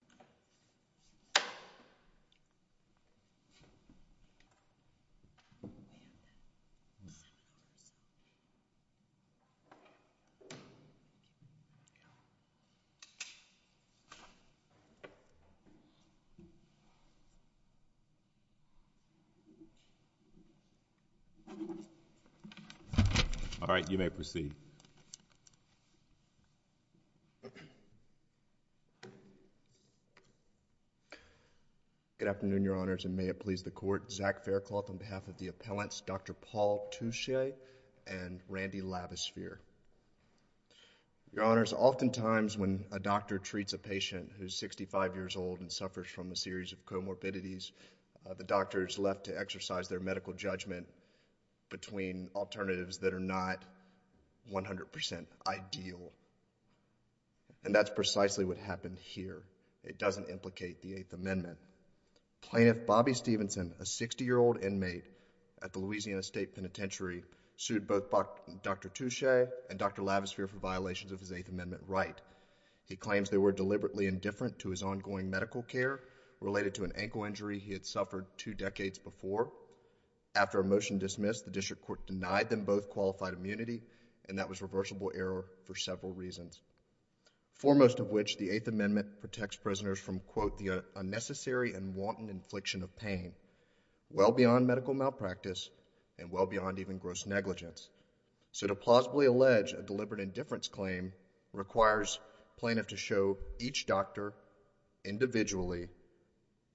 and I'm going to turn it over to Zach Faircloth on behalf of the appellants, Dr. Paul Touche and Randy Lavosphere. Your Honors, oftentimes when a doctor treats a patient who's 65 years old and suffers from a series of comorbidities, the doctor is left to exercise their medical judgment between alternatives that are not 100% ideal. And that's precisely what happened here. It doesn't implicate the Eighth Amendment. Plaintiff Bobby Stevenson, a 60-year-old inmate at the Louisiana State Penitentiary, sued both Dr. Touche and Dr. Lavosphere for violations of his Eighth Amendment right. He claims they were deliberately indifferent to his ongoing medical care related to an ankle injury he had suffered two decades before. After a motion dismissed, the district court denied them both qualified immunity and that was reversible error for several reasons, foremost of which the Eighth Amendment protects prisoners from, quote, the unnecessary and wanton infliction of pain, well beyond medical malpractice and well beyond even gross negligence. So to plausibly allege a deliberate indifference claim requires plaintiff to show each doctor individually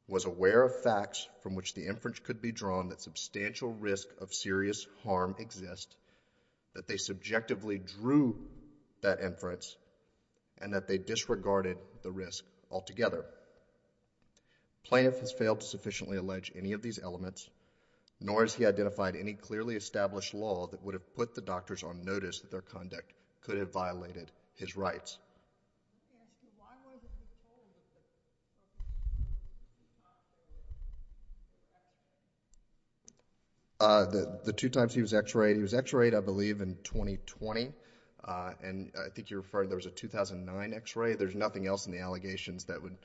was aware of facts from which the inference could be drawn that substantial risk of serious harm exist, that they subjectively drew that inference, and that they disregarded the risk altogether. Plaintiff has failed to sufficiently allege any of these elements, nor has he identified any clearly established law that would have put the doctors on notice that their conduct could have violated his rights. You can ask him, why was he told that the two times he was X-rayed, he was X-rayed, I believe, in 2020, and I think you referred, there was a 2009 X-ray. There's nothing else in the allegations that would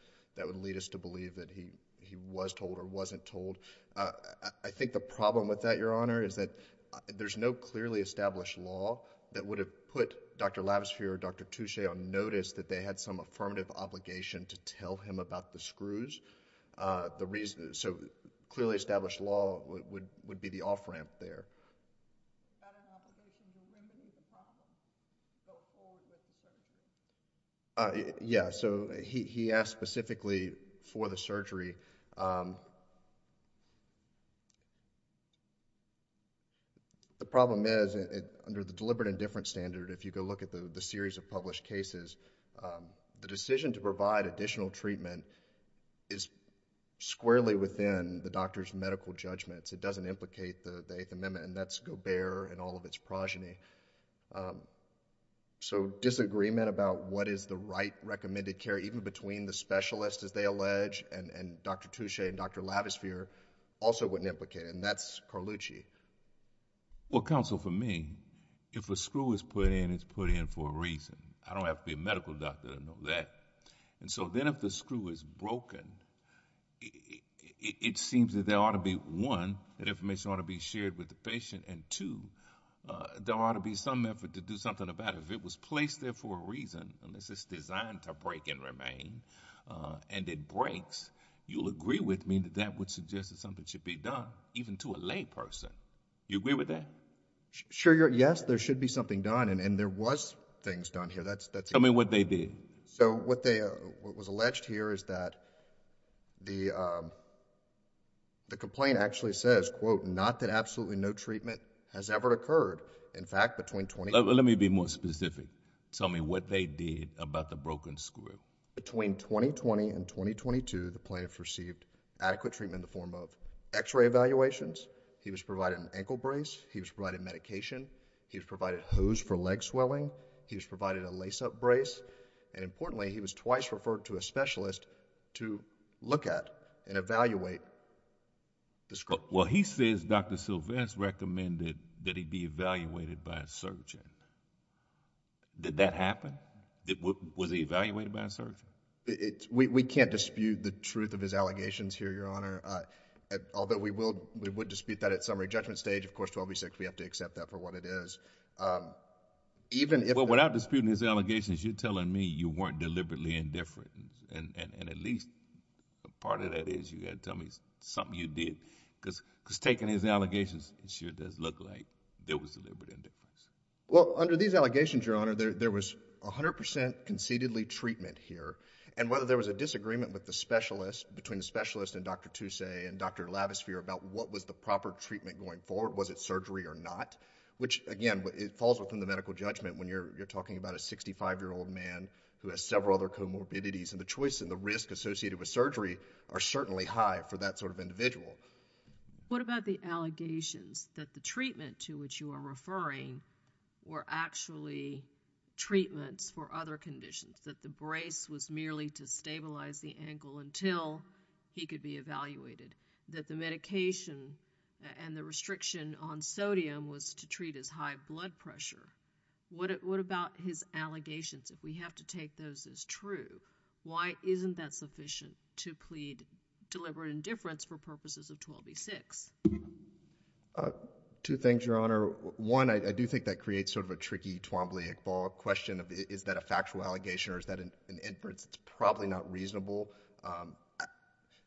lead us to believe that he was told or wasn't told. I think the problem with that, Your Honor, is that there's no clearly established law that would have put Dr. Lavesphere or Dr. Touche on notice that they had some affirmative obligation to tell him about the screws. The reason, so clearly established law would be the off-ramp there. Yeah, so he asked specifically for the surgery. The problem is, under the deliberate indifference standard, if you go look at the series of published cases, the decision to provide additional treatment is squarely within the doctor's medical judgments. It doesn't implicate the Eighth Amendment, and that's Gobert and all of its progeny. So disagreement about what is the right recommended care, even between the specialist, as they said, Dr. Touche and Dr. Lavesphere, also wouldn't implicate, and that's Carlucci. Well, counsel, for me, if a screw is put in, it's put in for a reason. I don't have to be a medical doctor to know that. So then if the screw is broken, it seems that there ought to be, one, that information ought to be shared with the patient, and two, there ought to be some effort to do something about it. If it was placed there for a reason, unless it's designed to break and remain and it breaks, you'll agree with me that that would suggest that something should be done, even to a lay person. You agree with that? Sure, yes. There should be something done, and there was things done here. Tell me what they did. So what was alleged here is that the complaint actually says, quote, not that absolutely no treatment has ever occurred, in fact, between... Let me be more specific. Tell me what they did about the broken screw. Between 2020 and 2022, the plaintiff received adequate treatment in the form of x-ray evaluations. He was provided an ankle brace. He was provided medication. He was provided a hose for leg swelling. He was provided a lace-up brace, and importantly, he was twice referred to a specialist to look at and evaluate the screw. Well, he says Dr. Sylvester recommended that he be evaluated by a surgeon. Did that happen? Was he evaluated by a surgeon? We can't dispute the truth of his allegations here, Your Honor, although we would dispute that at summary judgment stage. Of course, 12B6, we have to accept that for what it is. Even if... Well, without disputing his allegations, you're telling me you weren't deliberately indifferent, and at least a part of that is you've got to tell me something you did, because taking his allegations, it sure does look like there was deliberate indifference. Well, under these allegations, Your Honor, there was 100 percent concededly treatment here, and whether there was a disagreement with the specialist, between the specialist and Dr. Toussaint and Dr. Lavisphere about what was the proper treatment going forward, was it surgery or not, which, again, it falls within the medical judgment when you're talking about a 65-year-old man who has several other comorbidities, and the choice and the risk associated with surgery are certainly high for that sort of individual. What about the allegations that the treatment to which you are referring were actually treatments for other conditions, that the brace was merely to stabilize the ankle until he could be evaluated, that the medication and the restriction on sodium was to treat his high blood pressure? What about his allegations? If we have to take those as true, why isn't that sufficient to plead deliberate indifference for purposes of 12e6? Two things, Your Honor. One, I do think that creates sort of a tricky Twombly-Iqbal question of is that a factual allegation or is that an indifference that's probably not reasonable.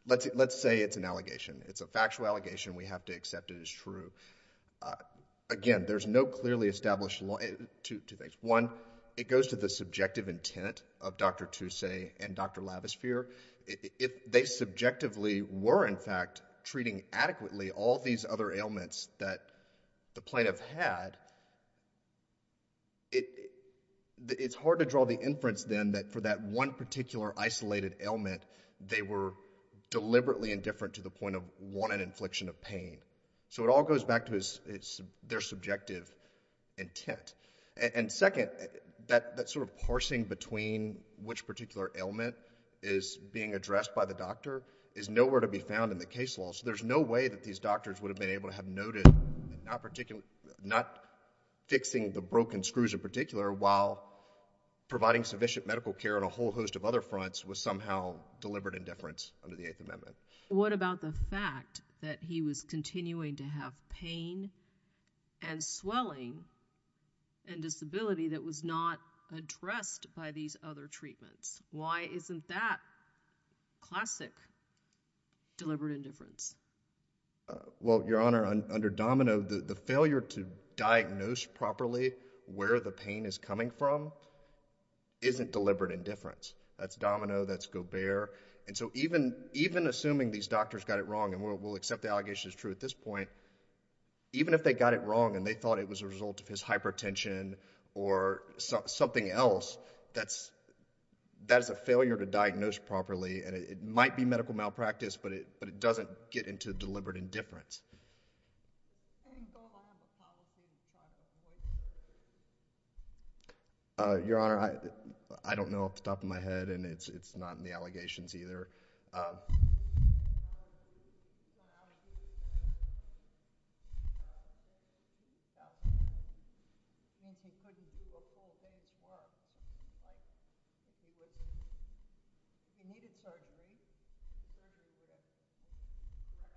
Let's say it's an allegation. It's a factual allegation. We have to accept it as true. Again, there's no clearly established law—two things. One, it goes to the subjective intent of Dr. Toussaint and Dr. Lavisphere. If they subjectively were, in fact, treating adequately all these other ailments that the plaintiff had, it's hard to draw the inference then that for that one particular isolated ailment, they were deliberately indifferent to the point of wanted infliction of pain. So it all goes back to their subjective intent. And second, that sort of parsing between which particular ailment is being addressed by the doctor is nowhere to be found in the case law. So there's no way that these doctors would have been able to have noted not fixing the broken screws in particular while providing sufficient medical care on a whole host of other fronts was somehow deliberate indifference under the Eighth Amendment. What about the fact that he was continuing to have pain and swelling and disability that was not addressed by these other treatments? Why isn't that classic deliberate indifference? Well, Your Honor, under Domino, the failure to diagnose properly where the pain is coming from isn't deliberate indifference. That's Domino. That's Gobert. That's Gobert. And so even assuming these doctors got it wrong, and we'll accept the allegation is true at this point, even if they got it wrong and they thought it was a result of his hypertension or something else, that is a failure to diagnose properly. And it might be medical malpractice, but it doesn't get into deliberate indifference. I think Gobert might have a policy to try to avoid it. Your Honor, I don't know off the top of my head, and it's not in the allegations either. He went out of his way to get surgery in 2000, and he couldn't do a full day's work. He needed surgery. Surgery was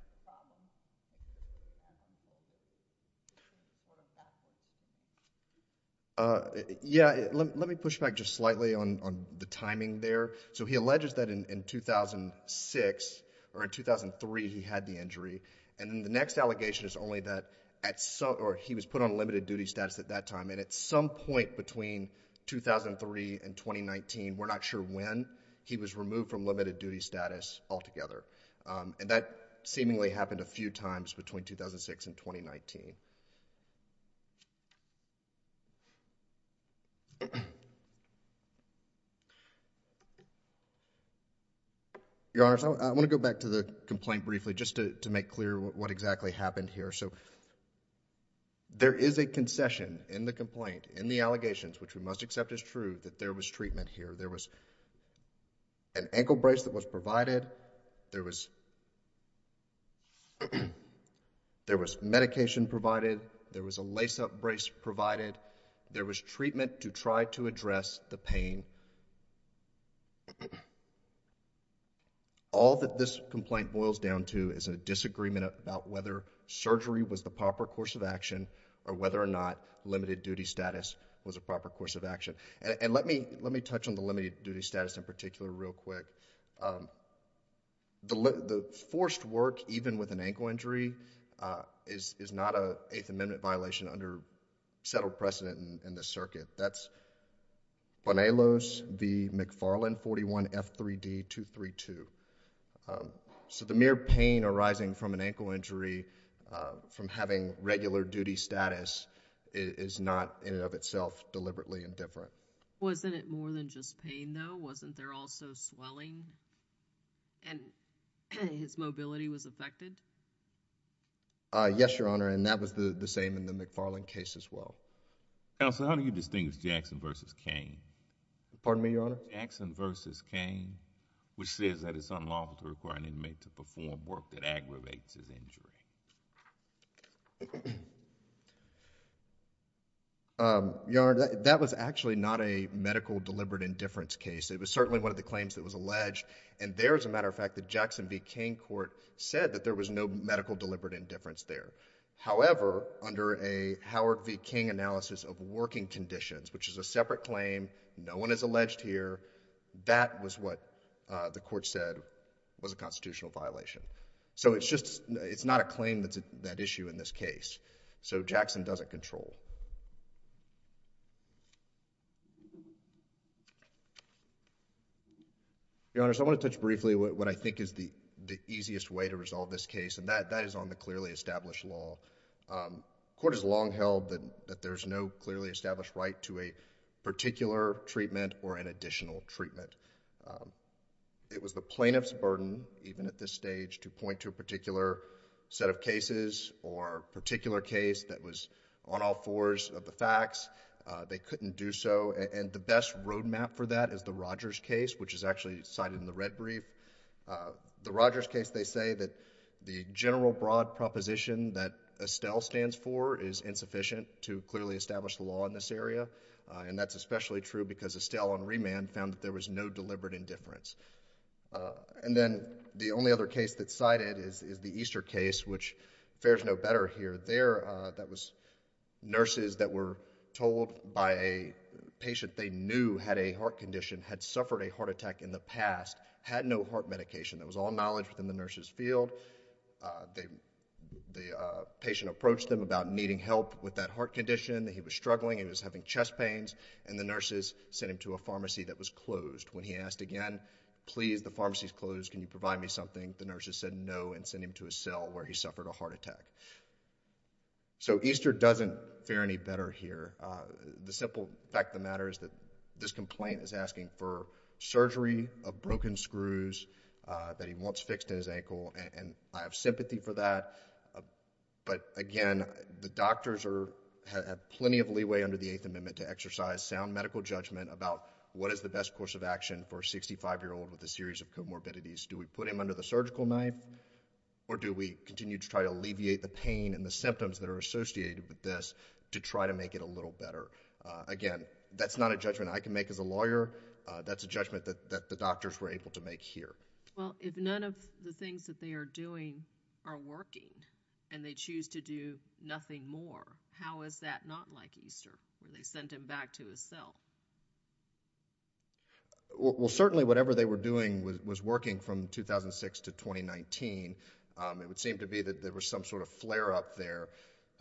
a problem. He couldn't afford a doctor. Yeah. Let me push back just slightly on the timing there. So he alleges that in 2006, or in 2003, he had the injury. And then the next allegation is only that he was put on limited duty status at that time, and at some point between 2003 and 2019, we're not sure when, he was removed from limited duty status altogether. And that seemingly happened a few times between 2006 and 2019. Your Honor, I want to go back to the complaint briefly just to make clear what exactly happened here. So there is a concession in the complaint, in the allegations, which we must accept is true, that there was treatment here. There was an ankle brace that was provided. There was medication provided. There was a lace-up brace provided. There was treatment to try to address the pain. All that this complaint boils down to is a disagreement about whether surgery was the proper course of action or whether or not limited duty status was a proper course of And let me touch on the limited duty status in particular real quick. The forced work, even with an ankle injury, is not an Eighth Amendment violation under settled precedent in this circuit. That's Bonelos v. McFarland 41F3D232. So the mere pain arising from an ankle injury from having regular duty status is not in and of itself deliberately indifferent. Wasn't it more than just pain though? Wasn't there also swelling and his mobility was affected? Yes, Your Honor. And that was the same in the McFarland case as well. Counsel, how do you distinguish Jackson v. Cain? Pardon me, Your Honor? Jackson v. Cain, which says that it's unlawful to require an inmate to perform work that aggravates his injury. Your Honor, that was actually not a medical deliberate indifference case. It was certainly one of the claims that was alleged. And there, as a matter of fact, the Jackson v. Cain court said that there was no medical deliberate indifference there. However, under a Howard v. Cain analysis of working conditions, which is a separate claim, no one is alleged here, that was what the court said was a constitutional violation. So it's not a claim that's at issue in this case. So Jackson doesn't control. Your Honor, so I want to touch briefly on what I think is the easiest way to resolve this case, and that is on the clearly established law. The court has long held that there's no clearly established right to a particular treatment or an additional treatment. It was the plaintiff's burden, even at this stage, to point to a particular set of cases or particular case that was on all fours of the facts. They couldn't do so, and the best roadmap for that is the Rogers case, which is actually cited in the red brief. The Rogers case, they say that the general broad proposition that Estelle stands for is insufficient to clearly establish the law in this area, and that's especially true because Estelle on remand found that there was no deliberate indifference. And then the only other case that's cited is the Easter case, which fares no better here. There, that was nurses that were told by a patient they knew had a heart condition, had suffered a heart attack in the past, had no heart medication. There was all knowledge within the nurse's field. The patient approached them about needing help with that heart condition. He was struggling. He was having chest pains, and the nurses sent him to a pharmacy that was closed. When he asked again, please, the pharmacy's closed. Can you provide me something? The nurses said no and sent him to a cell where he suffered a heart attack. So Easter doesn't fare any better here. The simple fact of the matter is that this complaint is asking for surgery of broken screws that he wants fixed in his ankle, and I have sympathy for that. But again, the doctors have plenty of leeway under the Eighth Amendment to a series of comorbidities. Do we put him under the surgical knife, or do we continue to try to alleviate the pain and the symptoms that are associated with this to try to make it a little better? Again, that's not a judgment I can make as a lawyer. That's a judgment that the doctors were able to make here. Well, if none of the things that they are doing are working and they choose to do nothing more, how is that not like Easter, where they sent him back to a cell? Well, certainly whatever they were doing was working from 2006 to 2019. It would seem to be that there was some sort of flare-up there.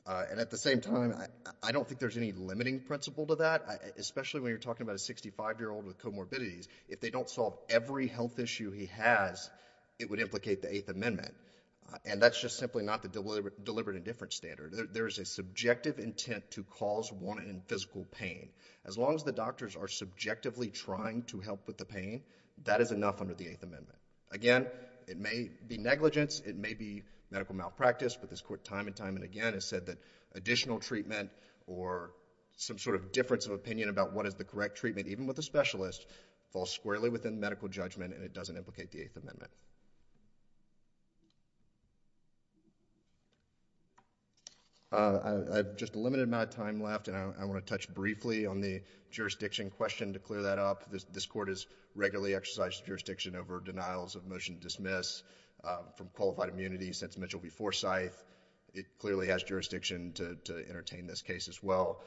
And at the same time, I don't think there's any limiting principle to that, especially when you're talking about a 65-year-old with comorbidities. If they don't solve every health issue he has, it would implicate the Eighth Amendment. And that's just simply not the deliberate indifference standard. There is a subjective intent to cause one in physical pain. As long as the doctors are subjectively trying to help with the pain, that is enough under the Eighth Amendment. Again, it may be negligence. It may be medical malpractice. But this Court time and time again has said that additional treatment or some sort of difference of opinion about what is the correct treatment, even with a specialist, falls squarely within medical judgment and it doesn't implicate the Eighth Amendment. I have just a limited amount of time left. And I want to touch briefly on the jurisdiction question to clear that up. This Court has regularly exercised jurisdiction over denials of motion to dismiss from qualified immunity since Mitchell v. Forsyth. It clearly has jurisdiction to entertain this case as well.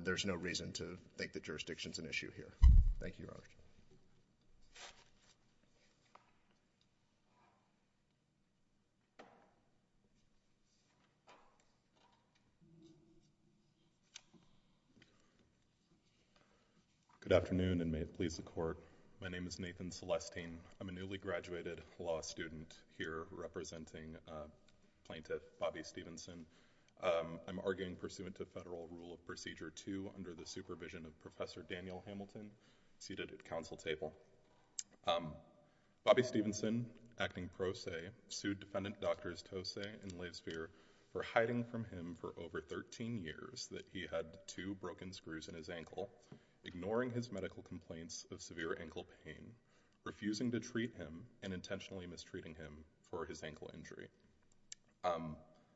There's no reason to think that jurisdiction is an issue here. Thank you, Your Honor. Good afternoon, and may it please the Court. My name is Nathan Celestine. I'm a newly graduated law student here representing plaintiff Bobby Stevenson. I'm arguing pursuant to Federal Rule of Procedure 2 under the supervision of Professor Daniel Hamilton, seated at council table. Bobby Stevenson, acting pro se, sued defendant Drs. Tose and Lathesphere for hiding from him for over 13 years that he had two broken screws in his ankle, ignoring his medical complaints of severe ankle pain, refusing to treat him, and intentionally mistreating him for his ankle injury.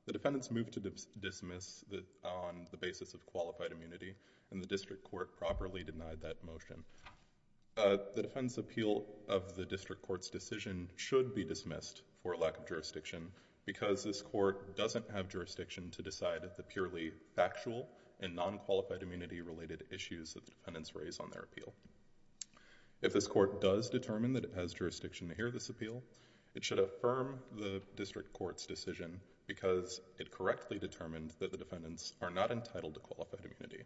The defendants moved to dismiss on the basis of qualified immunity and the district court properly denied that motion. The defendant's appeal of the district court's decision should be dismissed for lack of jurisdiction because this court doesn't have jurisdiction to hear the non-qualified immunity-related issues that the defendants raise on their appeal. If this court does determine that it has jurisdiction to hear this appeal, it should affirm the district court's decision because it correctly determined that the defendants are not entitled to qualified immunity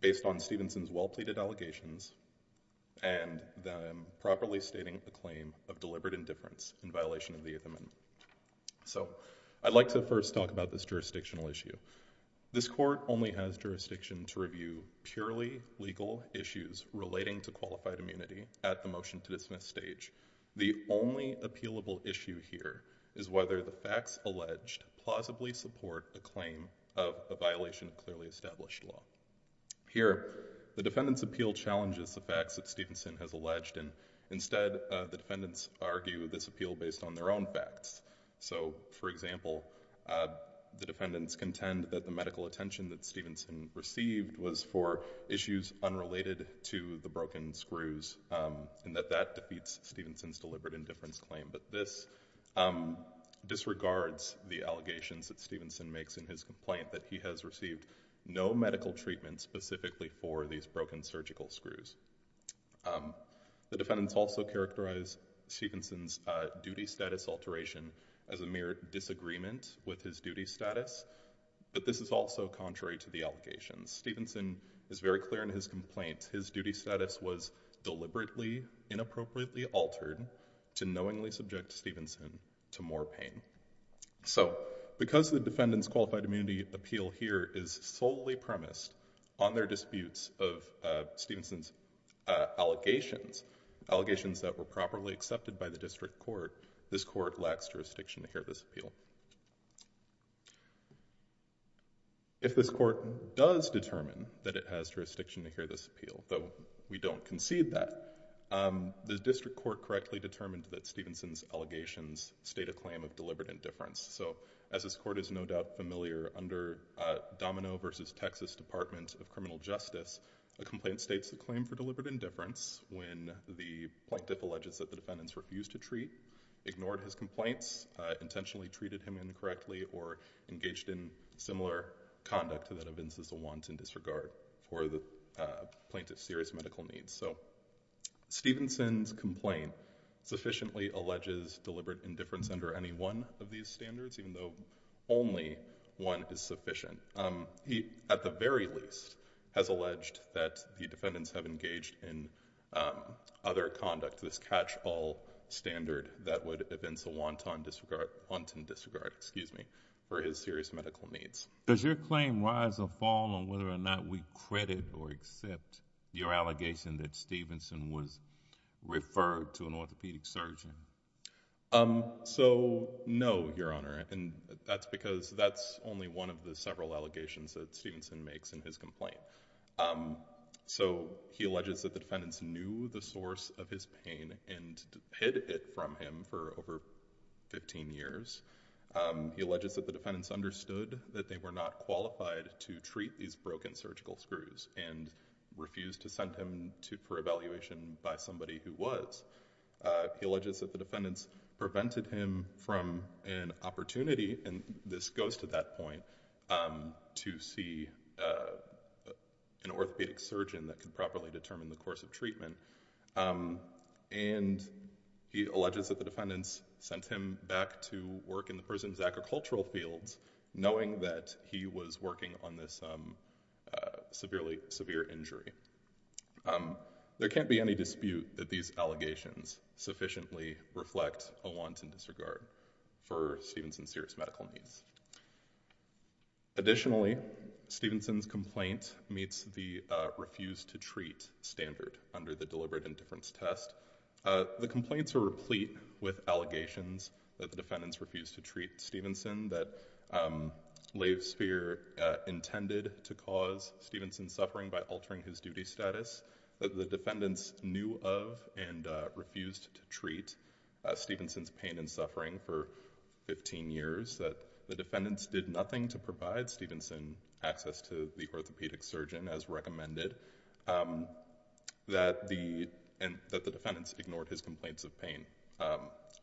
based on Stevenson's well-pleaded allegations and them properly stating the claim of deliberate indifference in violation of the Eighth Amendment. So I'd like to first talk about this jurisdictional issue. This court only has jurisdiction to review purely legal issues relating to qualified immunity at the motion-to-dismiss stage. The only appealable issue here is whether the facts alleged plausibly support the claim of a violation of clearly established law. Here, the defendant's appeal challenges the facts that Stevenson has alleged, and instead the defendants argue this appeal based on their own facts. So, for example, the defendants contend that the medical attention that Stevenson received was for issues unrelated to the broken screws and that that defeats Stevenson's deliberate indifference claim. But this disregards the allegations that Stevenson makes in his complaint that he has received no medical treatment specifically for these broken surgical screws. The defendants also characterize Stevenson's duty status alteration as a mere disagreement with his duty status, but this is also contrary to the allegations. Stevenson is very clear in his complaint. His duty status was deliberately inappropriately altered to knowingly subject Stevenson to more pain. So because the defendant's qualified immunity appeal here is solely premised on their disputes of Stevenson's allegations, allegations that were properly accepted by the district court, this court lacks jurisdiction to hear this appeal. If this court does determine that it has jurisdiction to hear this appeal, though we don't concede that, the district court correctly determined that Stevenson's allegations state a claim of deliberate indifference. So as this court is no doubt familiar, under Domino v. Texas Department of Criminal Justice, a complaint states a claim for deliberate indifference when the plaintiff alleges that the defendants refused to treat, ignored his complaints, intentionally treated him incorrectly, or engaged in similar conduct that evinces a wanton disregard for the plaintiff's serious medical needs. So Stevenson's complaint sufficiently alleges deliberate indifference under any one of these standards, even though only one is sufficient. He, at the very least, has alleged that the defendants have engaged in other conduct, this catch-all standard that would evince a wanton disregard for his serious medical needs. Does your claim rise or fall on whether or not we credit or accept your allegation that Stevenson was referred to an orthopedic surgeon? So, no, Your Honor, and that's because that's only one of the several allegations that Stevenson makes in his complaint. So he alleges that the defendants knew the source of his pain and hid it from him for over 15 years. He alleges that the defendants understood that they were not qualified to treat these broken surgical screws and refused to send him for evaluation by somebody who was. He alleges that the defendants prevented him from an opportunity, and this goes to that point, to see an orthopedic surgeon that could properly determine the course of treatment. And he alleges that the defendants sent him back to work in the morning on this severely severe injury. There can't be any dispute that these allegations sufficiently reflect a wanton disregard for Stevenson's serious medical needs. Additionally, Stevenson's complaint meets the refuse to treat standard under the deliberate indifference test. The complaints are replete with allegations that the defendants refused to treat Stevenson, that Laysphere intended to cause Stevenson's suffering by altering his duty status, that the defendants knew of and refused to treat Stevenson's pain and suffering for 15 years, that the defendants did nothing to provide Stevenson access to the orthopedic surgeon as recommended, and that the defendants ignored his complaints of pain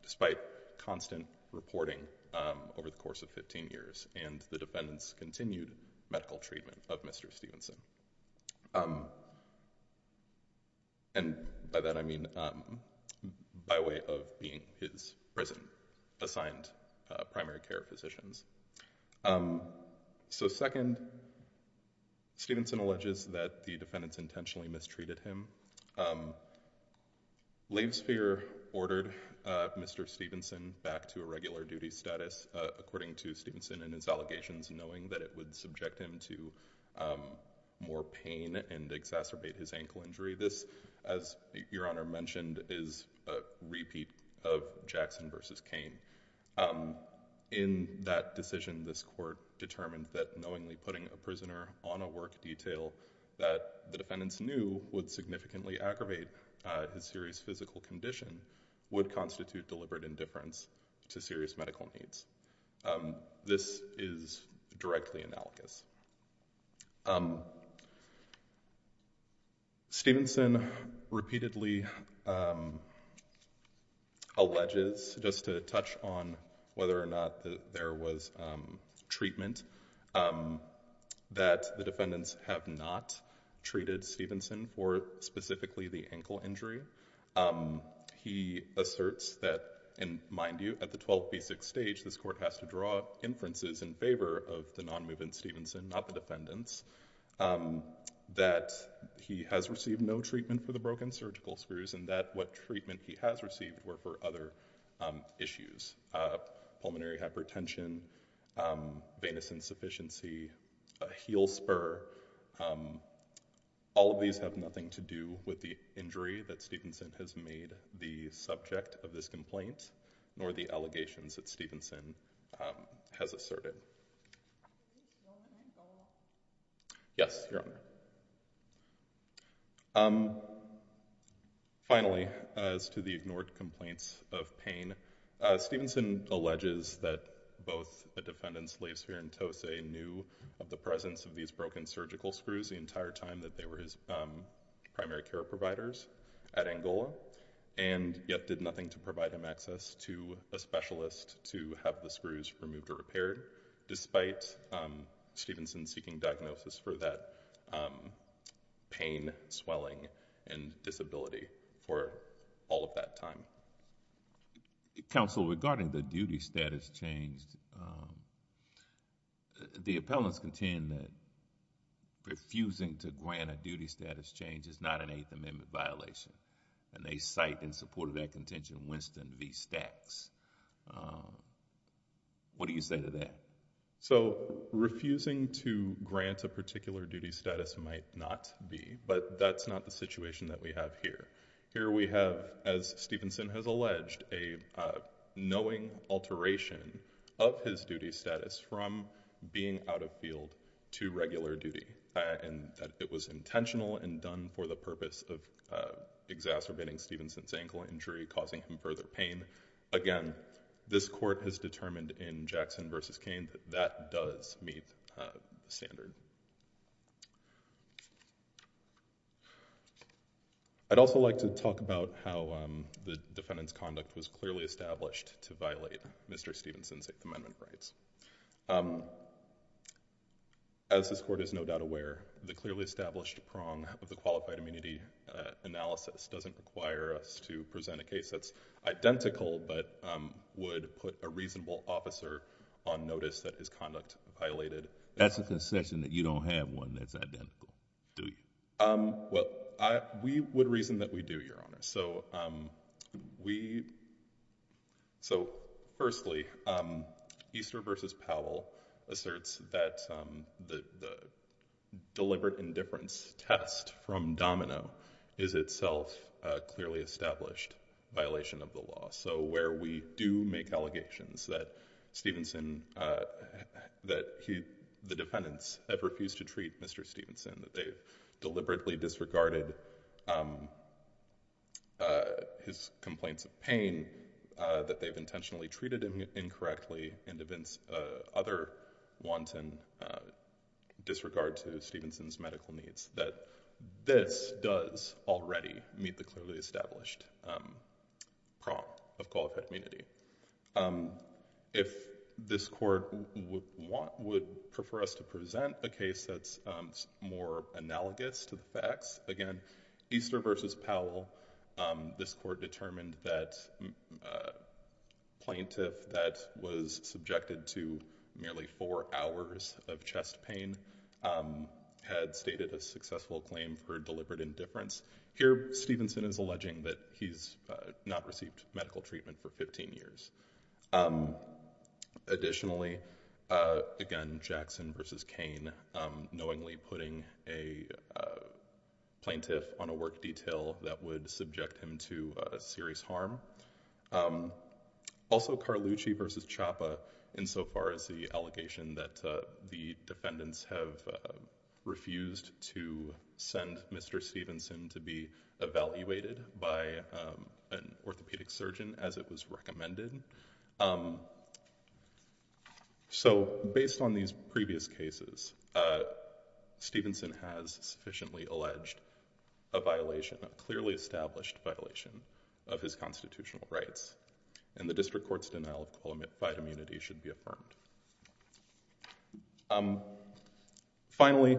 despite constant reporting over the course of 15 years and the defendants' continued medical treatment of Mr. Stevenson. And by that I mean by way of being his prison-assigned primary care physicians. So second, Stevenson alleges that the defendants intentionally mistreated him. Laysphere ordered Mr. Stevenson back to a regular duty status, according to Stevenson and his allegations, knowing that it would subject him to more pain and exacerbate his ankle injury. This, as Your Honor mentioned, is a repeat of Jackson v. Kane. In that decision, this court determined that knowingly putting a prisoner on a work detail that the defendants knew would significantly aggravate his serious physical condition would constitute deliberate indifference to serious medical needs. This is directly analogous. Stevenson repeatedly alleges, just to touch on whether or not there was treatment, that the defendants have not treated Stevenson for specifically the ankle injury. He asserts that, and mind you, at the 12B6 stage, this court has to draw inferences in favor of the non-movement Stevenson, not the defendants, that he has received no treatment for the broken surgical screws and that what treatment he has received were for other issues, pulmonary hypertension, venous insufficiency, a heel spur. All of these have nothing to do with the injury that Stevenson has made the subject of this complaint, nor the allegations that Stevenson has asserted. Yes, Your Honor. Finally, as to the ignored complaints of pain, Stevenson alleges that both the defendants, Lathesphere and Tose, knew of the presence of these broken surgical screws the entire time that they were his primary care providers at Angola, and yet did nothing to provide him access to a specialist to have the screws removed or repaired, despite Stevenson seeking diagnosis for that pain, swelling, and disability for all of that time. Counsel, regarding the duty status change, the appellants contend that refusing to grant a duty status change is not an Eighth Amendment violation, and they cite in support of that contention Winston v. Stacks. What do you say to that? Refusing to grant a particular duty status might not be, but that's not the situation that we have here. Here we have, as Stevenson has alleged, a knowing alteration of his duty status from being out of field to regular duty. It was intentional and done for the purpose of exacerbating Stevenson's ankle injury, causing him further pain. Again, this court has determined in Jackson v. Cain that that does meet the standard. I'd also like to talk about how the defendant's conduct was clearly established to violate Mr. Stevenson's Eighth Amendment rights. As this court is no doubt aware, the clearly established prong of the qualified immunity analysis doesn't require us to present a case that's identical but would put a reasonable officer on notice that his conduct violated. That's a concession that you don't have one that's identical, do you? We would reason that we do, Your Honor. Firstly, Easter v. Powell asserts that the deliberate indifference test from Domino is itself a clearly established violation of the law. So where we do make allegations that Stevenson, that the defendants have refused to treat Mr. Stevenson, that they've deliberately disregarded his complaints of pain, that they've intentionally treated him incorrectly and evince other wanton disregard to Stevenson's medical needs, that this does already meet the clearly established prong of qualified immunity. If this court would prefer us to present a case that's more analogous to the facts, again, Easter v. Powell, this court determined that a plaintiff that was subjected to merely four hours of chest pain had stated a successful claim for deliberate indifference. Here, Stevenson is alleging that he's not received medical treatment for 15 years. Additionally, again, Jackson v. Cain knowingly putting a plaintiff on a work detail that would subject him to serious harm. Also Carlucci v. Chapa insofar as the allegation that the defendants have refused to send Mr. Stevenson to be evaluated by an orthopedic surgeon as it was recommended. So based on these previous cases, Stevenson has sufficiently alleged a violation, a clearly established violation of his constitutional rights and the district court's denial of qualified immunity should be affirmed. Finally,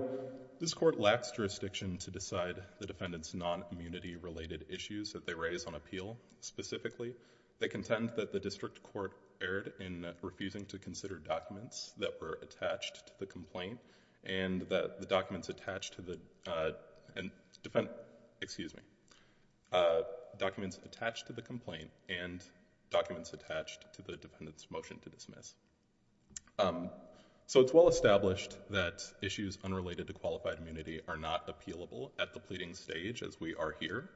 this court lacks jurisdiction to decide the defendants' non-immunity related issues that they raise on appeal. Specifically, they contend that the district court erred in refusing to consider documents that were attached to the complaint and documents attached to the defendant's motion to dismiss. So it's well established that issues unrelated to qualified immunity are not appealable at the pleading stage as we are here.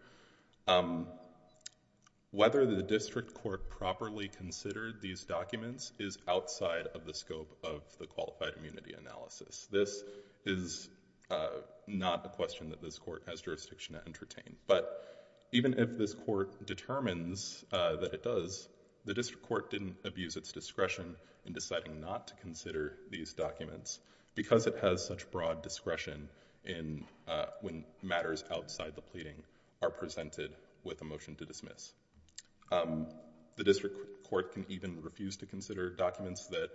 Whether the district court properly considered these documents is outside of the scope of the qualified immunity analysis. This is not a question that this court has jurisdiction to entertain. But even if this court determines that it does, the district court didn't abuse its discretion in deciding not to consider these documents because it has such broad discretion when matters outside the pleading are presented with a motion to dismiss. The district court can even refuse to consider documents that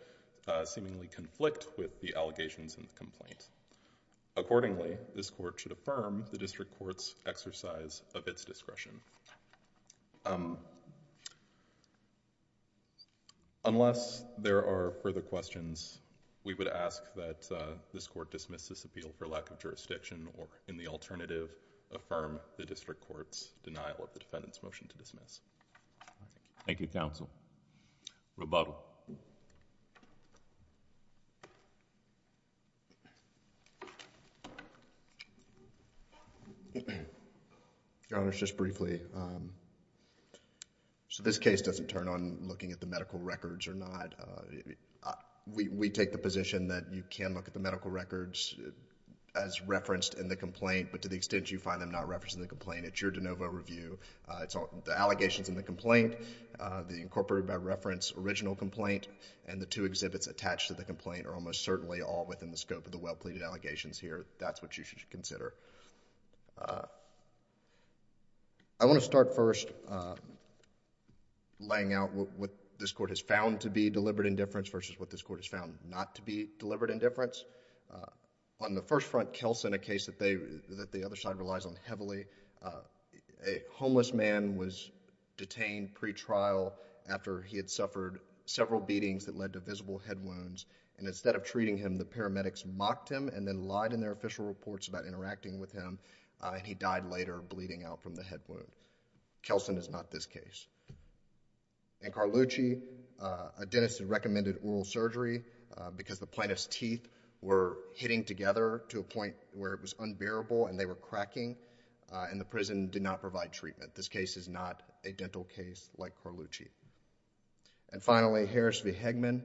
seemingly conflict with the allegations in the complaint. Accordingly, this court should affirm the district court's exercise of its discretion. Unless there are further questions, we would ask that this court dismiss this appeal for lack of jurisdiction or in the alternative, affirm the district court's denial of the defendant's motion to dismiss. Thank you, counsel. Rebuttal. Your Honor, just briefly, so this case doesn't turn on looking at the medical records or not. We take the position that you can look at the medical records as referenced in the complaint, but to the extent you find them not referenced in the complaint, it's your de novo review. The allegations in the complaint, the incorporated by reference original complaint, and the two exhibits attached to the complaint are almost certainly all within the scope of the well-pleaded allegations here. That's what you should consider. I want to start first laying out what this court has found to be deliberate indifference On the first front, Kelson, a case that the other side relies on heavily. A homeless man was detained pretrial after he had suffered several beatings that led to visible head wounds, and instead of treating him, the paramedics mocked him and then lied in their official reports about interacting with him, and he died later bleeding out from the head wound. Kelson is not this case. In Carlucci, a dentist had recommended oral surgery because the plaintiff's teeth were hitting together to a point where it was unbearable and they were cracking, and the prison did not provide treatment. This case is not a dental case like Carlucci. And finally, Harris v. Hegman,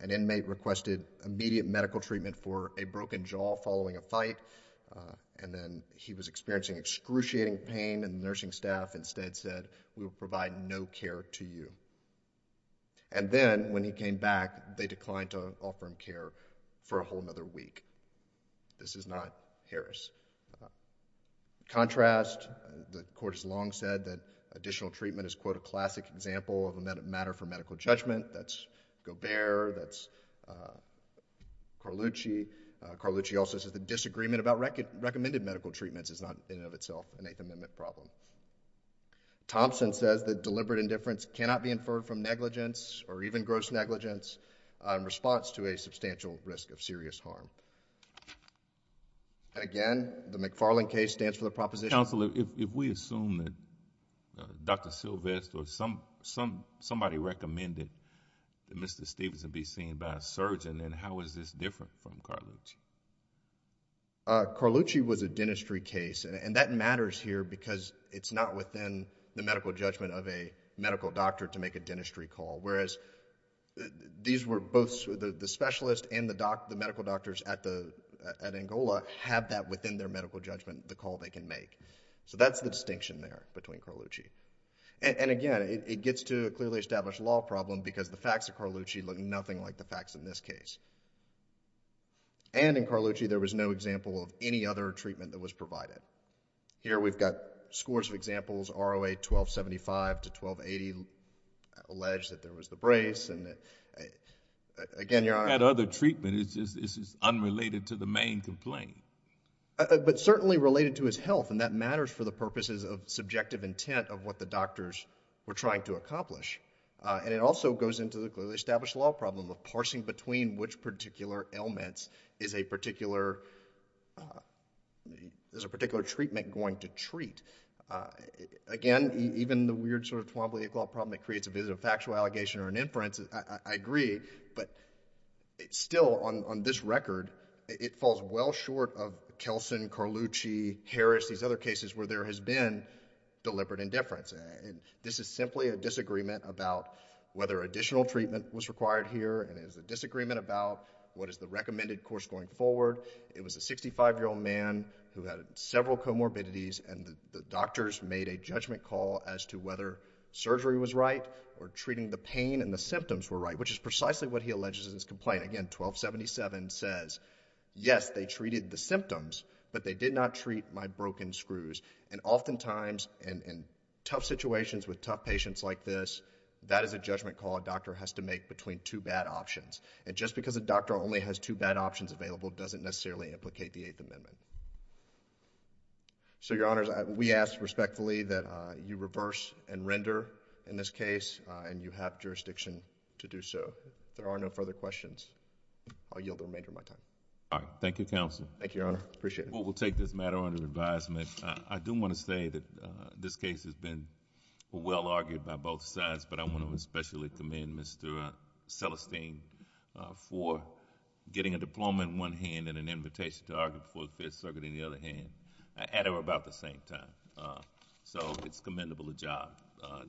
an inmate requested immediate medical treatment for a broken jaw following a fight, and then he was experiencing excruciating pain, and the nursing staff instead said, we will provide no care to you. And then, when he came back, they declined to offer him care for a whole other week. This is not Harris. In contrast, the court has long said that additional treatment is, quote, a classic example of a matter for medical judgment. That's Gobert, that's Carlucci. Carlucci also says that disagreement about recommended medical treatments is not in and of itself an Eighth Amendment problem. Thompson says that deliberate indifference cannot be inferred from negligence, or even gross negligence, in response to a substantial risk of serious harm. And again, the McFarland case stands for the proposition... Counsel, if we assume that Dr. Sylvester or somebody recommended that Mr. Stephenson be seen by a surgeon, then how is this different from Carlucci? Carlucci was a dentistry case, and that matters here, because it's not within the medical judgment of a medical doctor to make a dentistry call. Whereas, these were both... the specialist and the medical doctors at Angola have that within their medical judgment, the call they can make. So, that's the distinction there between Carlucci. And again, it gets to a clearly established law problem, because the facts of Carlucci look nothing like the facts in this case. And, in Carlucci, there was no example of any other treatment that was provided. Here, we've got scores of examples, ROA 1275 to 1280, alleged that there was the brace, and again... That other treatment is just unrelated to the main complaint. But certainly related to his health, and that matters for the purposes of subjective intent of what the doctors were trying to accomplish. And it also goes into the clearly established law problem of parsing between which particular ailments is a particular... is a particular treatment going to treat. Again, even the weird sort of Twombly-Ickle problem that creates a visit of factual allegation or an inference, I agree, but still, on this record, it falls well short of Kelson, Carlucci, Harris, these other cases where there has been deliberate indifference. And this is simply a disagreement about whether additional treatment was required here, and it is a disagreement about what is the recommended course going forward. It was a 65-year-old man who had several comorbidities, and the doctors made a judgment call as to whether surgery was right or treating the pain and the symptoms were right, which is precisely what he alleges in his complaint. Again, 1277 says, yes, they treated the symptoms, but they did not treat my broken screws. And oftentimes, in tough situations with tough patients like this, that is a judgment call a doctor has to make between two bad options. And just because a doctor only has two bad options available doesn't necessarily implicate the Eighth Amendment. So, Your Honors, we ask respectfully that you reverse and render in this case, and you have jurisdiction to do so. If there are no further questions, I'll yield the remainder of my time. All right. Thank you, Counsel. Thank you, Your Honor. Appreciate it. Well, we'll take this matter under advisement. I do want to say that this case has been well-argued by both sides, but I want to especially commend Mr. Celestine for getting a diploma in one hand and then an invitation to argue before the Fifth Circuit in the other hand at about the same time. So it's commendable a job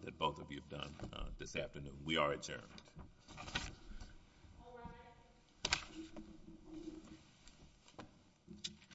that both of you have done this afternoon. We are adjourned.